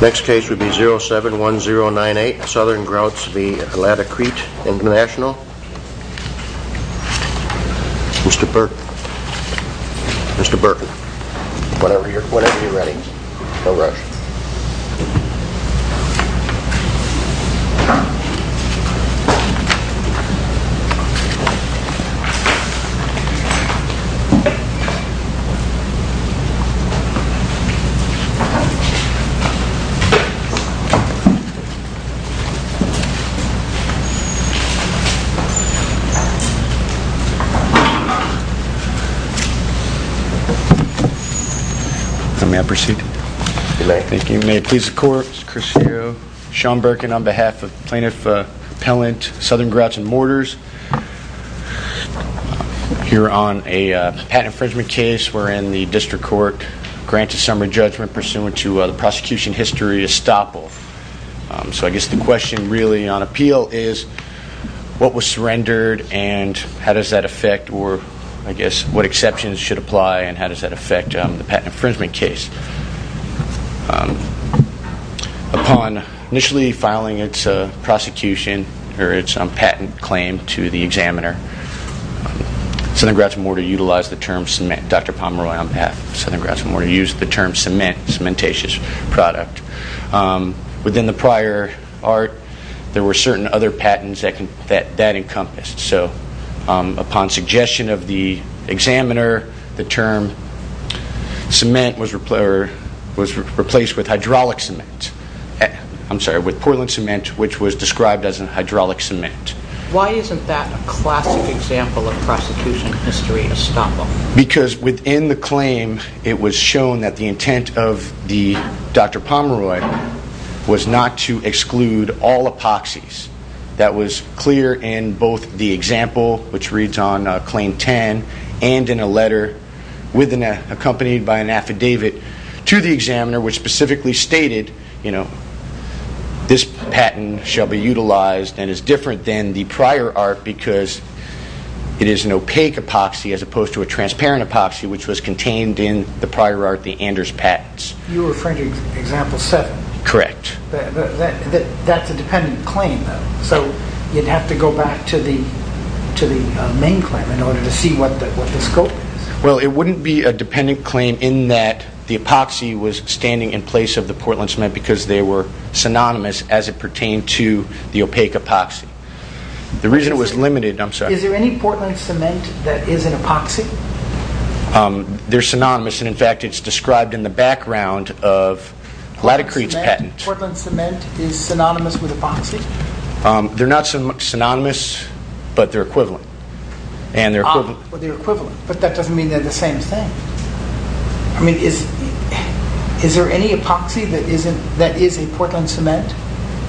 Next case would be 071098 Southern Grouts v. Laticrete Intl. Mr. Burton. Mr. Burton. Whenever you're ready. No rush. May I proceed? You may. Thank you. May it please the court. Mr. Crisfero. Sean Burkin on behalf of Plaintiff Appellant Southern Grouts v. Mortars. Here on a patent infringement case wherein the district court grants a summary judgment pursuant to the prosecution history estoppel. So I guess the question really on appeal is what was surrendered and how does that affect or I guess what exceptions should apply and how does that affect the patent infringement case? Upon initially filing its prosecution or its patent claim to the examiner, Southern Grouts v. Mortar utilized the term cement. Dr. Pomeroy on behalf of Southern Grouts v. Mortar used the term cement, cementaceous product. Within the prior art, there were certain other patents that encompassed. So upon suggestion of the examiner, the term cement was replaced with hydraulic cement. I'm sorry, with Portland cement which was described as a hydraulic cement. Why isn't that a classic example of prosecution history estoppel? Because within the claim, it was shown that the intent of Dr. Pomeroy was not to exclude all epoxies. That was clear in both the example which reads on claim 10 and in a letter accompanied by an affidavit to the examiner which specifically stated, this patent shall be utilized and is different than the prior art because it is an opaque epoxy as opposed to a transparent epoxy which was contained in the prior art, the Anders patents. You're referring to example 7. Correct. That's a dependent claim though. So you'd have to go back to the main claim in order to see what the scope is. Well, it wouldn't be a dependent claim in that the epoxy was standing in place of the Portland cement because they were synonymous as it pertained to the opaque epoxy. The reason it was limited, I'm sorry. Is there any Portland cement that is an epoxy? They're synonymous and in fact it's described in the background of Laticrete's patent. Portland cement is synonymous with epoxy? They're not synonymous but they're equivalent. They're equivalent but that doesn't mean they're the same thing. I mean, is there any epoxy that is a Portland cement?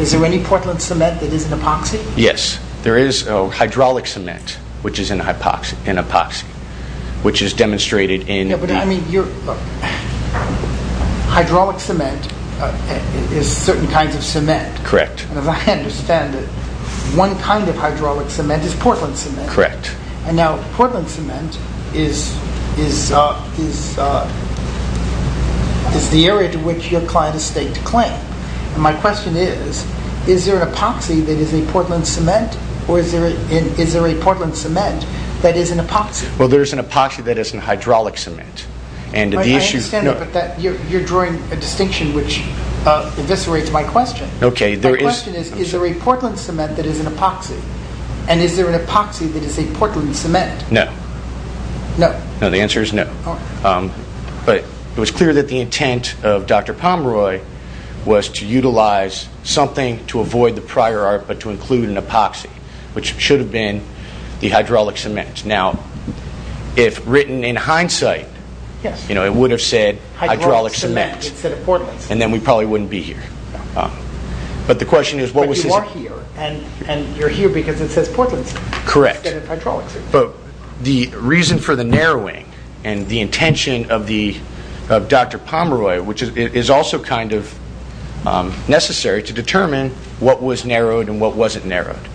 Is there any Portland cement that is an epoxy? Yes, there is hydraulic cement which is an epoxy which is demonstrated in... I mean, hydraulic cement is certain kinds of cement. Correct. As I understand it, one kind of hydraulic cement is Portland cement. Correct. Now, Portland cement is the area to which your client has staked a claim. My question is, is there an epoxy that is a Portland cement or is there a Portland cement that is an epoxy? Well, there's an epoxy that is a hydraulic cement. I understand that but you're drawing a distinction which eviscerates my question. My question is, is there a Portland cement that is an epoxy and is there an epoxy that is a Portland cement? No. No? No, the answer is no. But it was clear that the intent of Dr. Pomeroy was to utilize something to avoid the prior art but to include an epoxy which should have been the hydraulic cement. Now, if written in hindsight, it would have said hydraulic cement and then we probably wouldn't be here. But you are here and you're here because it says Portland cement instead of hydraulic cement. Correct. But the reason for the narrowing and the intention of Dr. Pomeroy, which is also kind of necessary to determine what was narrowed and what wasn't narrowed,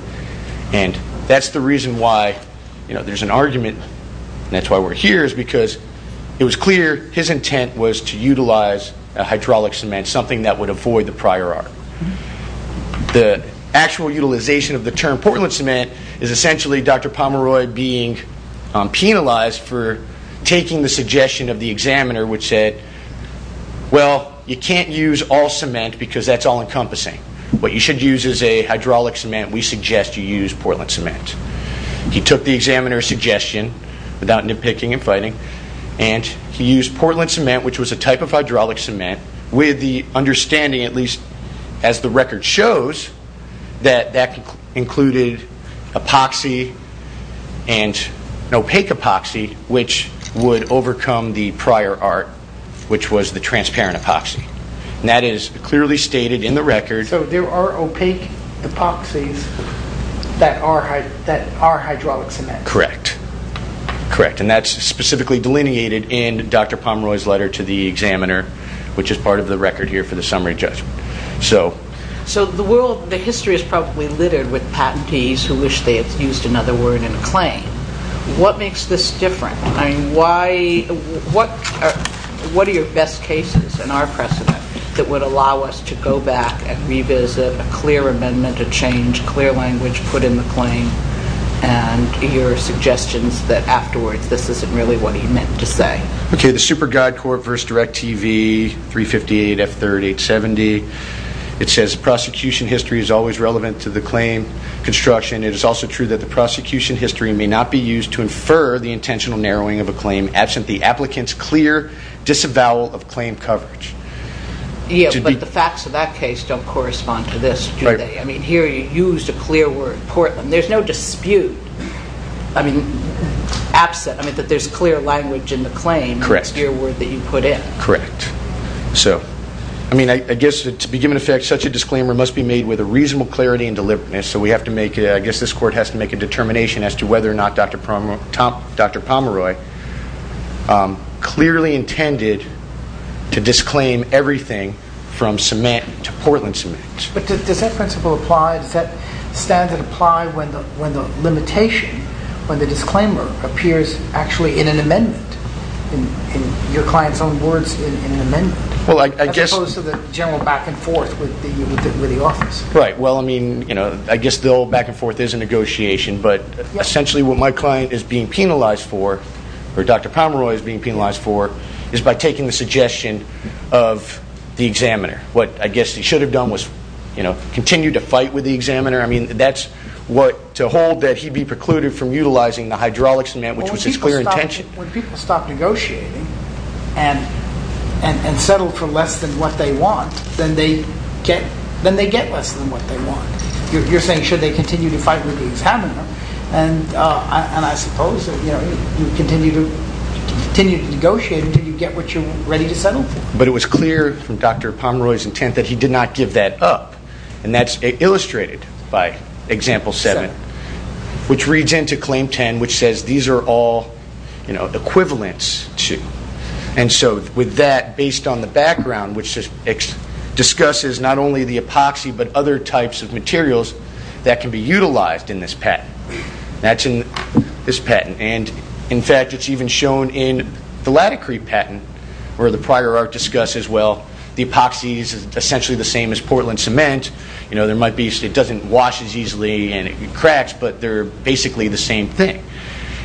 and that's the reason why there's an argument and that's why we're here, is because it was clear his intent was to utilize a hydraulic cement, something that would avoid the prior art. The actual utilization of the term Portland cement is essentially Dr. Pomeroy being penalized for taking the suggestion of the examiner which said, well, you can't use all cement because that's all-encompassing. What you should use is a hydraulic cement. We suggest you use Portland cement. He took the examiner's suggestion without nitpicking and fighting, and he used Portland cement which was a type of hydraulic cement with the understanding, at least as the record shows, that that included epoxy and opaque epoxy which would overcome the prior art which was the transparent epoxy. That is clearly stated in the record. So there are opaque epoxies that are hydraulic cement. Correct. And that's specifically delineated in Dr. Pomeroy's letter to the examiner which is part of the record here for the summary judgment. So the history is probably littered with patentees who wish they had used another word in a claim. What makes this different? I mean, what are your best cases in our precedent that would allow us to go back and revisit a clear amendment, a change, clear language put in the claim, and your suggestions that afterwards this isn't really what he meant to say? Okay, the Super Guide Corp. v. Direct TV 358F3870. It says prosecution history is always relevant to the claim construction. It is also true that the prosecution history may not be used to infer the intentional narrowing of a claim absent the applicant's clear disavowal of claim coverage. Yes, but the facts of that case don't correspond to this, do they? I mean, here you used a clear word, Portland. There's no dispute, I mean, absent, I mean, that there's clear language in the claim. Correct. The clear word that you put in. Correct. So, I mean, I guess to begin with, such a disclaimer must be made with a reasonable clarity and deliberateness. So we have to make, I guess this court has to make a determination as to whether or not Dr. Pomeroy clearly intended to disclaim everything from cement to Portland cement. But does that principle apply, does that standard apply when the limitation, when the disclaimer appears actually in an amendment, in your client's own words in an amendment? Well, I guess. As opposed to the general back and forth with the office. Right, well, I mean, you know, I guess the old back and forth is a negotiation, but essentially what my client is being penalized for, or Dr. Pomeroy is being penalized for, is by taking the suggestion of the examiner. What I guess he should have done was, you know, continue to fight with the examiner. I mean, that's what, to hold that he be precluded from utilizing the hydraulics amendment, which was his clear intention. When people stop negotiating and settle for less than what they want, then they get less than what they want. You're saying should they continue to fight with the examiner? And I suppose that, you know, you continue to negotiate until you get what you're ready to settle for. But it was clear from Dr. Pomeroy's intent that he did not give that up. And that's illustrated by example 7, which reads into claim 10, which says these are all, you know, equivalents to. And so with that, based on the background, which discusses not only the epoxy, but other types of materials that can be utilized in this patent. That's in this patent. And, in fact, it's even shown in the LATICRETE patent, where the prior art discusses, well, the epoxy is essentially the same as Portland cement. You know, it doesn't wash as easily and it cracks, but they're basically the same thing.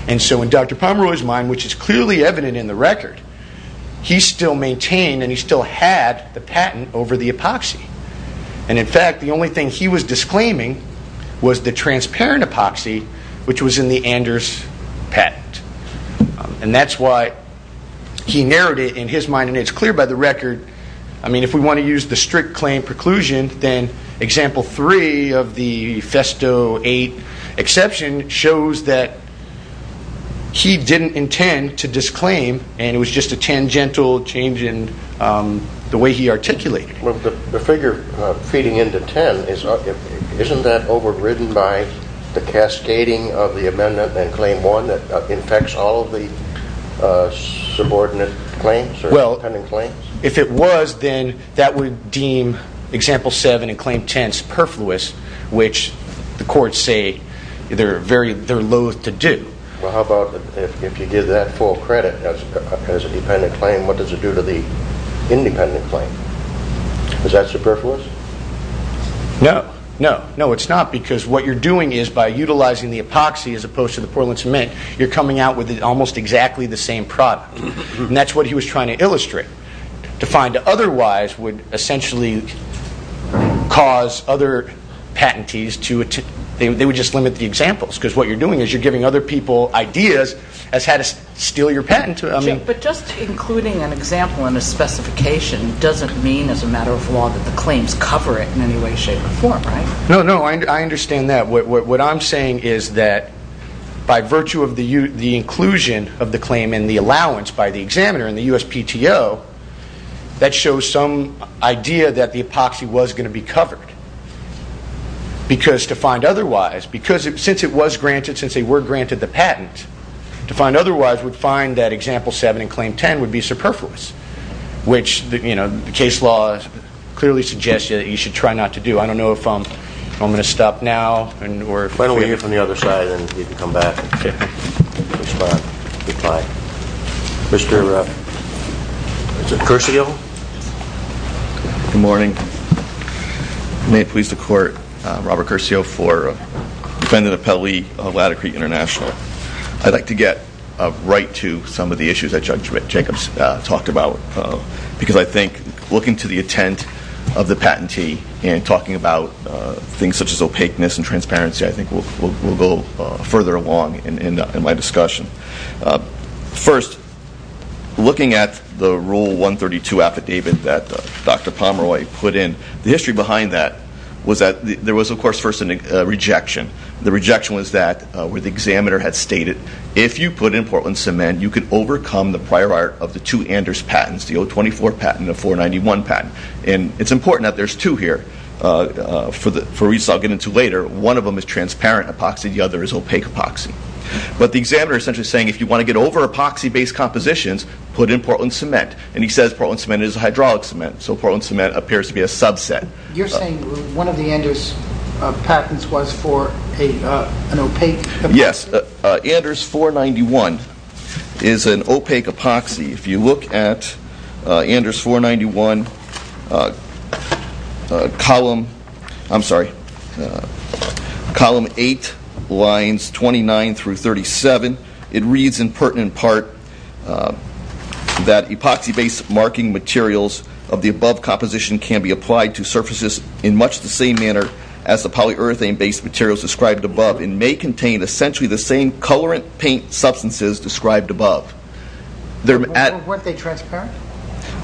And so in Dr. Pomeroy's mind, which is clearly evident in the record, he still maintained and he still had the patent over the epoxy. And, in fact, the only thing he was disclaiming was the transparent epoxy, which was in the Anders patent. And that's why he narrowed it in his mind. And it's clear by the record, I mean, if we want to use the strict claim preclusion, then example 3 of the Festo 8 exception shows that he didn't intend to disclaim and it was just a tangential change in the way he articulated it. Well, the figure feeding into 10, isn't that overridden by the cascading of the amendment in claim 1 that infects all of the subordinate claims or independent claims? Well, if it was, then that would deem example 7 in claim 10 superfluous, which the courts say they're loath to do. Well, how about if you give that full credit as a dependent claim, what does it do to the independent claim? Is that superfluous? No. No. No, it's not because what you're doing is by utilizing the epoxy as opposed to the Portland cement, you're coming out with almost exactly the same product. And that's what he was trying to illustrate. To find otherwise would essentially cause other patentees to, they would just limit the examples because what you're doing is you're giving other people ideas as how to steal your patent. But just including an example in a specification doesn't mean as a matter of law that the claims cover it in any way, shape, or form, right? No. No. I understand that. What I'm saying is that by virtue of the inclusion of the claim in the allowance by the examiner in the USPTO, that shows some idea that the epoxy was going to be covered because to find otherwise, because since it was granted, since they were granted the patent, to find otherwise would find that example 7 and claim 10 would be superfluous, which the case law clearly suggests that you should try not to do. I don't know if I'm going to stop now. Why don't we hear from the other side and you can come back and respond, reply. Mr. Curcio? Good morning. May it please the court, Robert Curcio for defendant appellee of Latter Creek International. I'd like to get right to some of the issues that Judge Jacobs talked about because I think looking to the intent of the patentee and talking about things such as opaqueness and transparency, I think we'll go further along in my discussion. First, looking at the Rule 132 affidavit that Dr. Pomeroy put in, the history behind that was that there was, of course, first a rejection. The rejection was that where the examiner had stated, if you put in Portland cement, you can overcome the prior art of the two Anders patents, the 024 patent and the 491 patent. It's important that there's two here. For reasons I'll get into later, one of them is transparent epoxy, the other is opaque epoxy. But the examiner is essentially saying if you want to get over epoxy-based compositions, put in Portland cement. And he says Portland cement is a hydraulic cement, so Portland cement appears to be a subset. You're saying one of the Anders patents was for an opaque epoxy? Yes. Anders 491 is an opaque epoxy. If you look at Anders 491, column 8, lines 29 through 37, it reads in pertinent part that epoxy-based marking materials of the above composition can be applied to surfaces in much the same manner as the polyurethane-based materials described above and may contain essentially the same colorant paint substances described above. Weren't they transparent?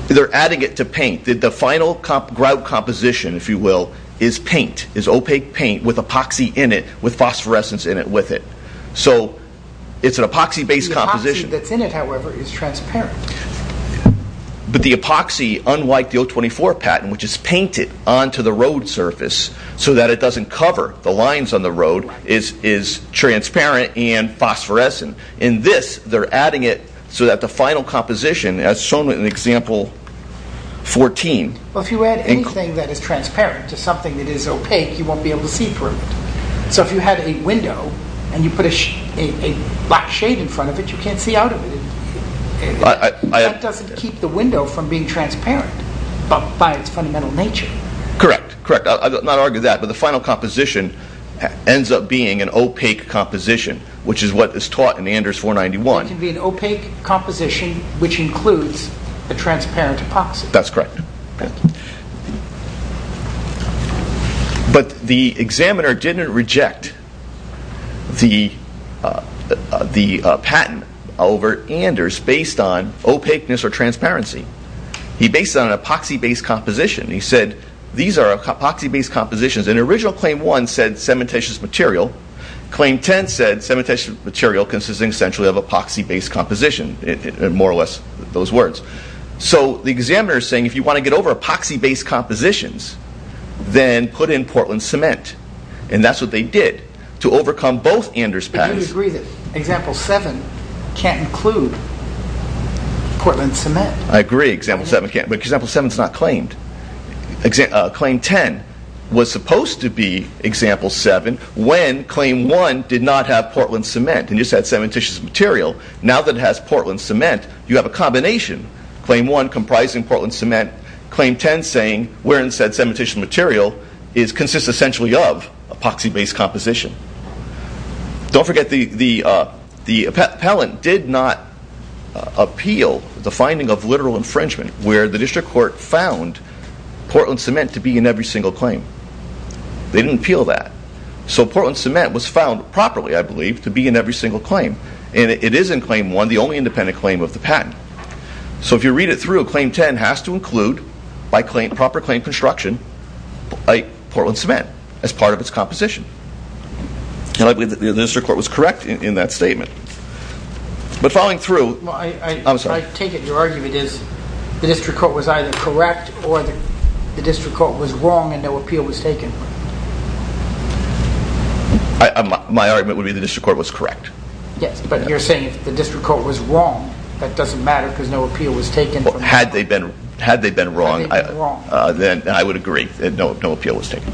They're adding it to paint. The final grout composition, if you will, is paint, is opaque paint with epoxy in it, with phosphorescence in it with it. So it's an epoxy-based composition. The epoxy that's in it, however, is transparent. But the epoxy, unlike the 024 patent, which is painted onto the road surface so that it doesn't cover the lines on the road, is transparent and phosphorescent. In this, they're adding it so that the final composition, as shown in example 14... Well, if you add anything that is transparent to something that is opaque, you won't be able to see through it. So if you had a window and you put a black shade in front of it, you can't see out of it. That doesn't keep the window from being transparent by its fundamental nature. Correct, correct. I'm not arguing that. But the final composition ends up being an opaque composition, which is what is taught in Anders 491. It can be an opaque composition which includes a transparent epoxy. That's correct. But the examiner didn't reject the patent over Anders based on opaqueness or transparency. He based it on an epoxy-based composition. He said, these are epoxy-based compositions. In original claim 1, it said cementitious material. Claim 10 said cementitious material consisting essentially of epoxy-based composition, more or less those words. So the examiner is saying, if you want to get over epoxy-based compositions, then put in Portland cement. And that's what they did to overcome both Anders patents. But do you agree that example 7 can't include Portland cement? I agree example 7 can't, but example 7 is not claimed. Claim 10 was supposed to be example 7 when claim 1 did not have Portland cement. It just had cementitious material. Now that it has Portland cement, you have a combination. Claim 1 comprising Portland cement. Claim 10 saying we're in said cementitious material. It consists essentially of epoxy-based composition. Don't forget the appellant did not appeal the finding of literal infringement where the district court found Portland cement to be in every single claim. They didn't appeal that. So Portland cement was found properly, I believe, to be in every single claim. And it is in claim 1, the only independent claim of the patent. So if you read it through, claim 10 has to include, by proper claim construction, Portland cement as part of its composition. And I believe the district court was correct in that statement. But following through, I'm sorry. I take it your argument is the district court was either correct or the district court was wrong and no appeal was taken. My argument would be the district court was correct. Yes, but you're saying if the district court was wrong, that doesn't matter because no appeal was taken. Had they been wrong, then I would agree. No appeal was taken.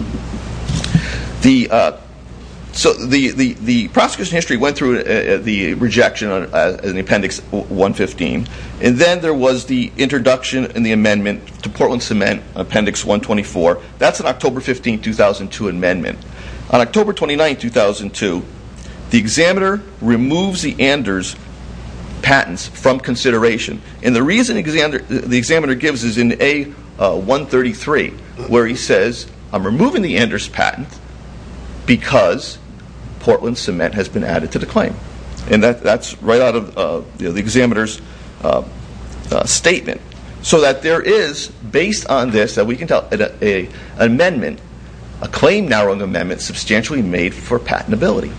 So the prosecution history went through the rejection in Appendix 115. And then there was the introduction in the amendment to Portland cement, Appendix 124. That's an October 15, 2002 amendment. On October 29, 2002, the examiner removes the Anders patents from consideration. And the reason the examiner gives is in A133, where he says, I'm removing the Anders patent because Portland cement has been added to the claim. And that's right out of the examiner's statement. So that there is, based on this, an amendment, a claim-narrowing amendment substantially made for patentability.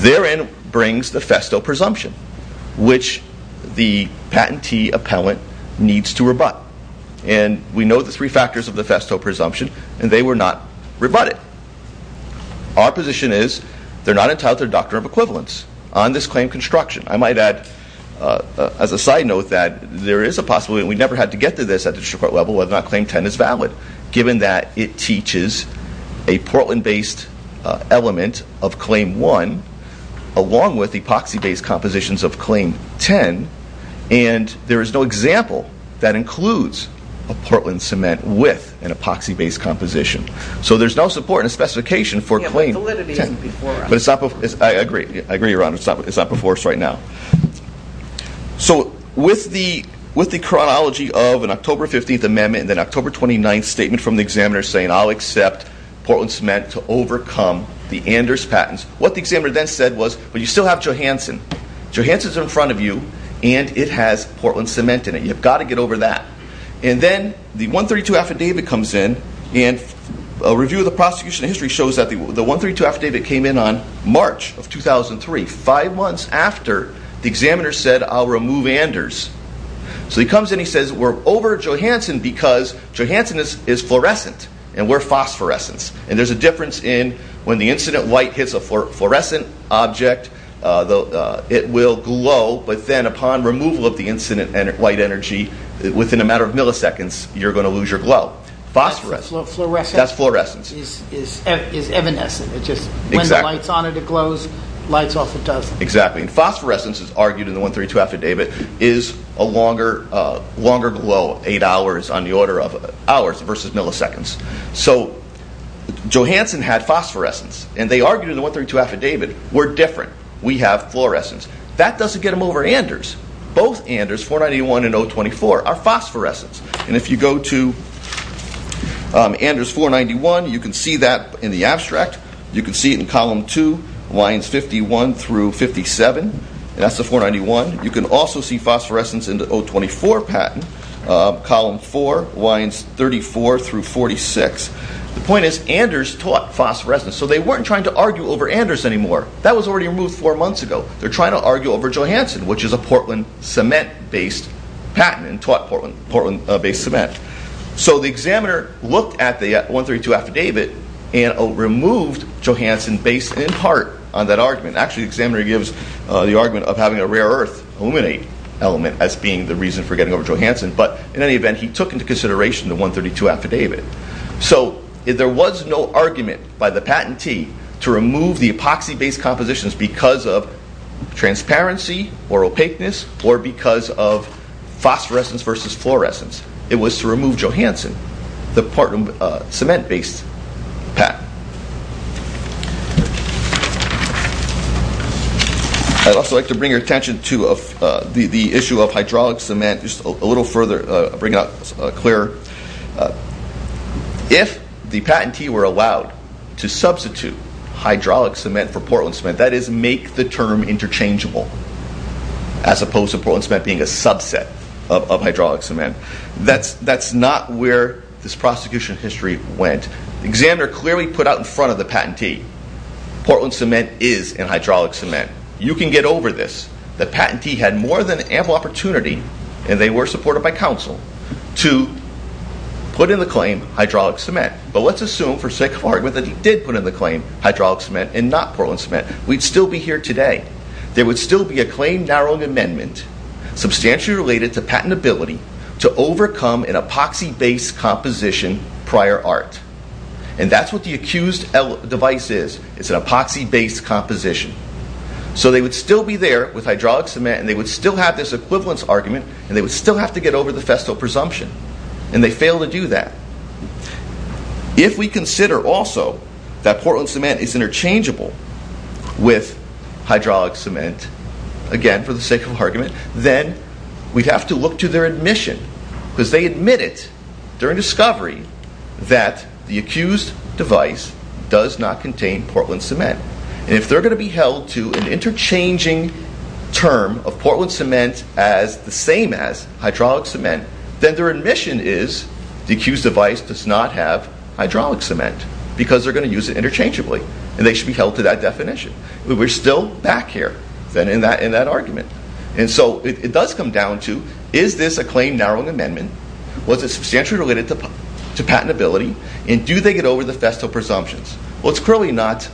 Therein brings the Festo presumption, which the patentee appellant needs to rebut. And we know the three factors of the Festo presumption, and they were not rebutted. Our position is they're not entitled to a doctrine of equivalence on this claim construction. I might add, as a side note, that there is a possibility, and we never had to get to this at the district court level, whether or not Claim 10 is valid, given that it teaches a Portland-based element of Claim 1, along with epoxy-based compositions of Claim 10. And there is no example that includes a Portland cement with an epoxy-based composition. So there's no support in the specification for Claim 10. But I agree, Your Honor, it's not before us right now. So with the chronology of an October 15th amendment, and then October 29th statement from the examiner saying, I'll accept Portland cement to overcome the Anders patents, what the examiner then said was, but you still have Johansson. Johansson's in front of you, and it has Portland cement in it. You've got to get over that. And then the 132 affidavit comes in, and a review of the prosecution of history shows that the 132 affidavit came in on March of 2003, five months after the examiner said, I'll remove Anders. So he comes in, he says, we're over Johansson because Johansson is fluorescent, and we're phosphorescence. And there's a difference in when the incident light hits a fluorescent object, it will glow, but then upon removal of the incident light energy, within a matter of milliseconds, you're going to lose your glow. Phosphorescence. Fluorescence? That's fluorescence. It's evanescent. When the light's on it, it glows. Lights off, it doesn't. Exactly. And phosphorescence, as argued in the 132 affidavit, is a longer glow, eight hours on the order of hours versus milliseconds. So Johansson had phosphorescence, and they argued in the 132 affidavit, we're different, we have fluorescence. That doesn't get them over Anders. Both Anders, 491 and 024, are phosphorescence. And if you go to Anders 491, you can see that in the abstract. You can see it in column 2, lines 51 through 57. That's the 491. You can also see phosphorescence in the 024 patent, column 4, lines 34 through 46. The point is Anders taught phosphorescence, so they weren't trying to argue over Anders anymore. That was already removed four months ago. They're trying to argue over Johansson, which is a Portland cement-based patent and taught Portland-based cement. So the examiner looked at the 132 affidavit and removed Johansson based in part on that argument. Actually, the examiner gives the argument of having a rare earth illuminate element as being the reason for getting over Johansson, but in any event, he took into consideration the 132 affidavit. So there was no argument by the patentee to remove the epoxy-based compositions because of transparency or opaqueness or because of phosphorescence versus fluorescence. It was to remove Johansson, the Portland cement-based patent. I'd also like to bring your attention to the issue of hydraulic cement just a little further, bring it up clearer. If the patentee were allowed to substitute hydraulic cement for Portland cement, that is, make the term interchangeable, as opposed to Portland cement being a subset of hydraulic cement, that's not where this prosecution history went. The examiner clearly put out in front of the patentee, Portland cement is in hydraulic cement. You can get over this. The patentee had more than ample opportunity, and they were supported by counsel, to put in the claim hydraulic cement. But let's assume, for sake of argument, that he did put in the claim hydraulic cement and not Portland cement. We'd still be here today. There would still be a claim-narrowing amendment substantially related to patentability to overcome an epoxy-based composition prior art. And that's what the accused device is. It's an epoxy-based composition. So they would still be there with hydraulic cement, and they would still have this equivalence argument, and they would still have to get over the Festo presumption. And they failed to do that. If we consider also that Portland cement is interchangeable with hydraulic cement, again, for the sake of argument, then we'd have to look to their admission, because they admit it during discovery that the accused device does not contain Portland cement. And if they're going to be held to an interchanging term of Portland cement as the same as hydraulic cement, then their admission is the accused device does not have hydraulic cement because they're going to use it interchangeably, and they should be held to that definition. We're still back here in that argument. And so it does come down to, is this a claim-narrowing amendment, was it substantially related to patentability, and do they get over the Festo presumptions? Well, it's clearly not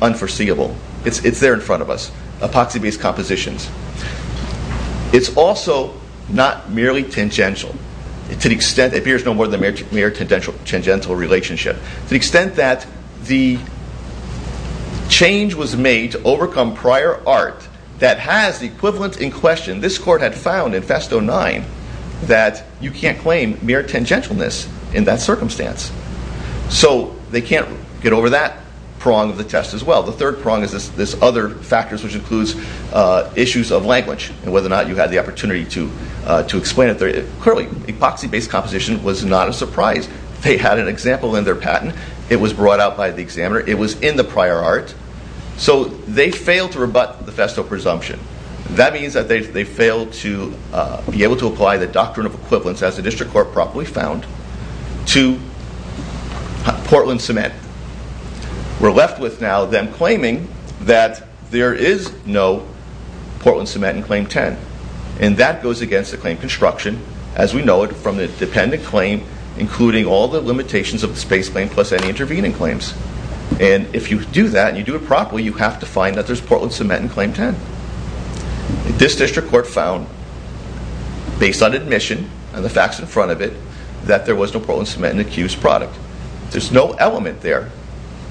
unforeseeable. It's there in front of us, epoxy-based compositions. It's also not merely tangential. It appears no more than a mere tangential relationship. To the extent that the change was made to overcome prior art that has the equivalent in question, this court had found in Festo 9 that you can't claim mere tangentialness in that circumstance. So they can't get over that prong of the test as well. The third prong is this other factors, which includes issues of language and whether or not you had the opportunity to explain it. Clearly, epoxy-based composition was not a surprise. They had an example in their patent. It was brought out by the examiner. It was in the prior art. So they failed to rebut the Festo presumption. That means that they failed to be able to apply the doctrine of equivalence, as the district court properly found, to Portland cement. We're left with now them claiming that there is no Portland cement in Claim 10. And that goes against the claim construction, as we know it from the dependent claim, including all the limitations of the space claim plus any intervening claims. And if you do that and you do it properly, you have to find that there's Portland cement in Claim 10. This district court found, based on admission and the facts in front of it, that there was no Portland cement in the accused product. There's no element there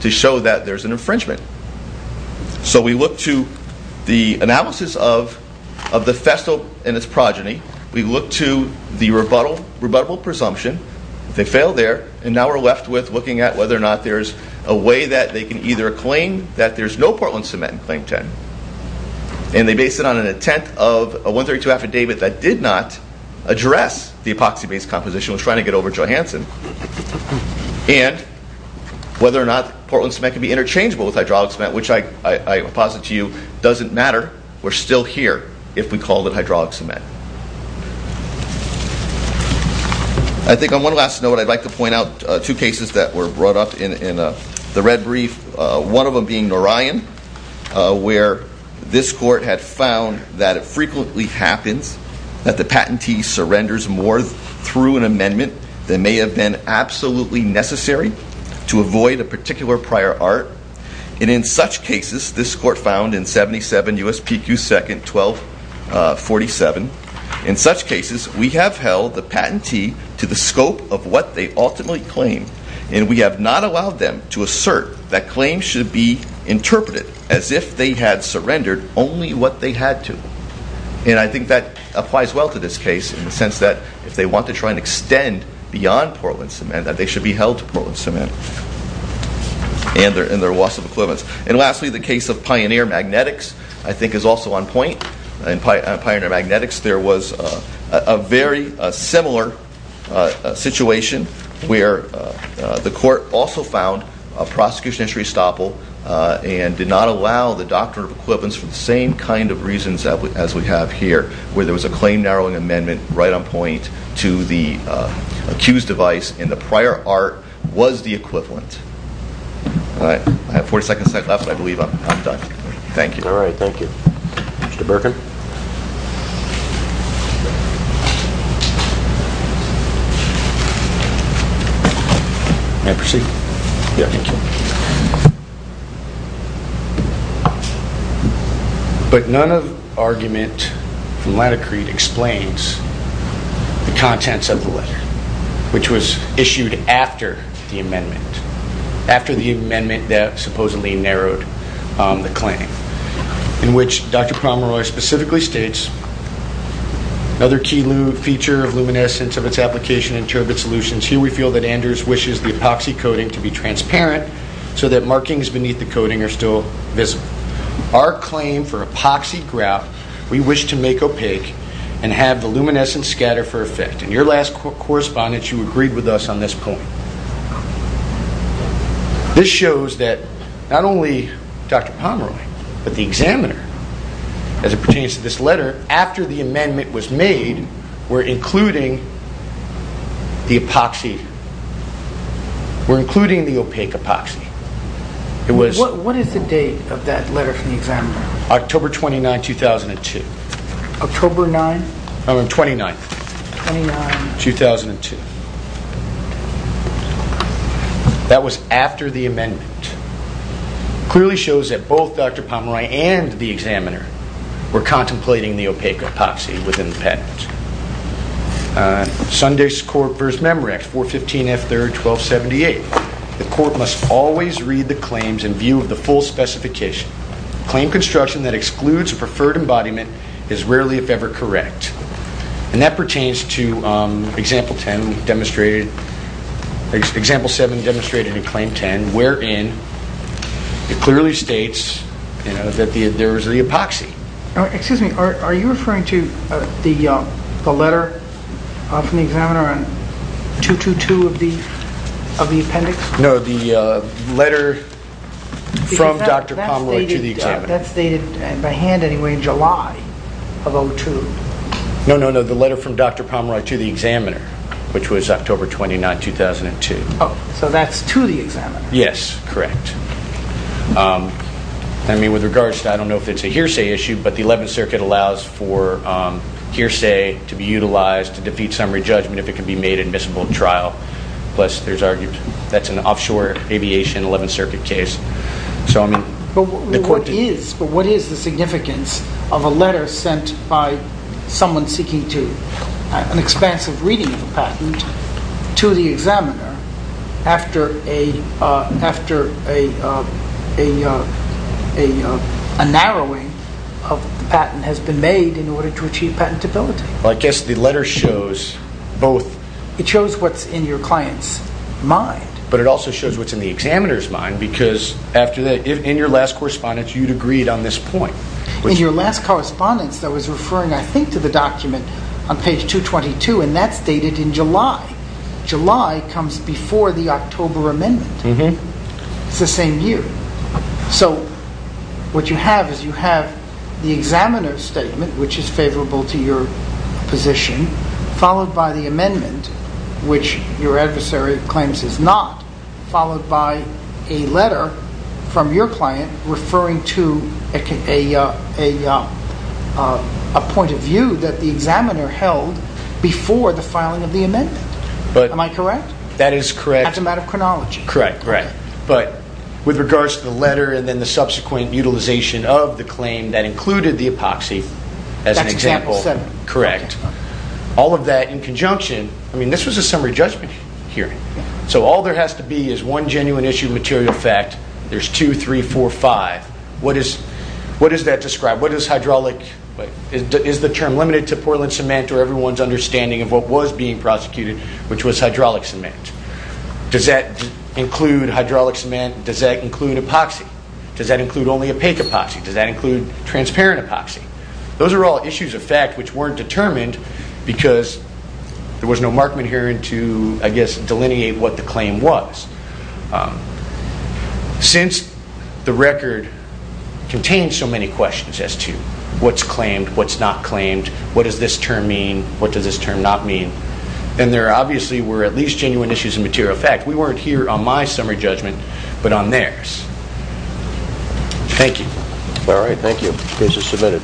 to show that there's an infringement. So we look to the analysis of the Festo and its progeny. We look to the rebuttable presumption. They failed there, and now we're left with looking at whether or not there's a way that they can either claim that there's no Portland cement in Claim 10, and they base it on an attempt of a 132 affidavit that did not address the epoxy-based composition. It was trying to get over Johansson. And whether or not Portland cement can be interchangeable with hydraulic cement, which I posit to you doesn't matter. We're still here if we call it hydraulic cement. I think on one last note, I'd like to point out two cases that were brought up in the red brief, one of them being Narayan, where this court had found that it frequently happens that the patentee surrenders more through an amendment than may have been absolutely necessary to avoid a particular prior art. And in such cases, this court found in 77 USPQ 2nd 1247, in such cases, we have held the patentee to the scope of what they ultimately claim, and we have not allowed them to assert that claims should be interpreted as if they had surrendered only what they had to. And I think that applies well to this case in the sense that if they want to try and extend beyond Portland cement, that they should be held to Portland cement in their loss of equivalence. And lastly, the case of Pioneer Magnetics, I think, is also on point. In Pioneer Magnetics, there was a very similar situation where the court also found prosecution history estoppel and did not allow the doctrine of equivalence for the same kind of reasons as we have here, where there was a claim-narrowing amendment right on point to the accused device, and the prior art was the equivalent. All right, I have 40 seconds left. I believe I'm done. Thank you. All right, thank you. Mr. Burkin? May I proceed? Yeah, thank you. But none of the argument from LATICRETE explains the contents of the letter, which was issued after the amendment, after the amendment that supposedly narrowed the claim, in which Dr. Pomeroy specifically states, another key feature of luminescence of its application in turbid solutions, here we feel that Anders wishes the epoxy coating to be transparent so that markings beneath the coating are still visible. Our claim for epoxy grout, we wish to make opaque and have the luminescence scatter for effect. In your last correspondence, you agreed with us on this point. This shows that not only Dr. Pomeroy, but the examiner, as it pertains to this letter, after the amendment was made, were including the epoxy, were including the opaque epoxy. What is the date of that letter from the examiner? October 29, 2002. October 9th? No, 29th. 29th. 2002. That was after the amendment. It clearly shows that both Dr. Pomeroy and the examiner were contemplating the opaque epoxy within the patent. Sunday's Court v. Memorandum, 415 F. 3rd, 1278. The Court must always read the claims in view of the full specification. Claim construction that excludes a preferred embodiment is rarely, if ever, correct. And that pertains to Example 7 demonstrated in Claim 10, wherein it clearly states that there is the epoxy. Excuse me, are you referring to the letter from the examiner on 222 of the appendix? No, the letter from Dr. Pomeroy to the examiner. That's dated by hand, anyway, in July of 2002. No, no, no, the letter from Dr. Pomeroy to the examiner, which was October 29, 2002. Oh, so that's to the examiner. Yes, correct. I mean, with regards to, I don't know if it's a hearsay issue, but the Eleventh Circuit allows for hearsay to be utilized to defeat summary judgment if it can be made admissible in trial. Plus, there's argued that's an offshore aviation Eleventh Circuit case. But what is the significance of a letter sent by someone seeking an expansive reading of a patent to the examiner after a narrowing of the patent has been made in order to achieve patentability? Well, I guess the letter shows both... It shows what's in your client's mind. But it also shows what's in the examiner's mind, because in your last correspondence, you'd agreed on this point. In your last correspondence, I was referring, I think, to the document on page 222, and that's dated in July. July comes before the October Amendment. It's the same year. So what you have is you have the examiner's statement, which is favorable to your position, followed by the amendment, which your adversary claims is not, followed by a letter from your client referring to a point of view that the examiner held before the filing of the amendment. Am I correct? That is correct. That's a matter of chronology. Correct, correct. But with regards to the letter and then the subsequent utilization of the claim that included the epoxy, as an example... That's example seven. Correct. All of that in conjunction... I mean, this was a summary judgment hearing. So all there has to be is one genuine issue of material fact. There's two, three, four, five. What does that describe? What does hydraulic... Is the term limited to Portland cement or everyone's understanding of what was being prosecuted, which was hydraulic cement? Does that include hydraulic cement? Does that include epoxy? Does that include only opaque epoxy? Does that include transparent epoxy? Those are all issues of fact which weren't determined because there was no markment hearing to, I guess, delineate what the claim was. Since the record contains so many questions as to what's claimed, what's not claimed, what does this term mean, what does this term not mean, then there obviously were at least genuine issues of material fact. We weren't here on my summary judgment but on theirs. Thank you. All right, thank you. Case is submitted.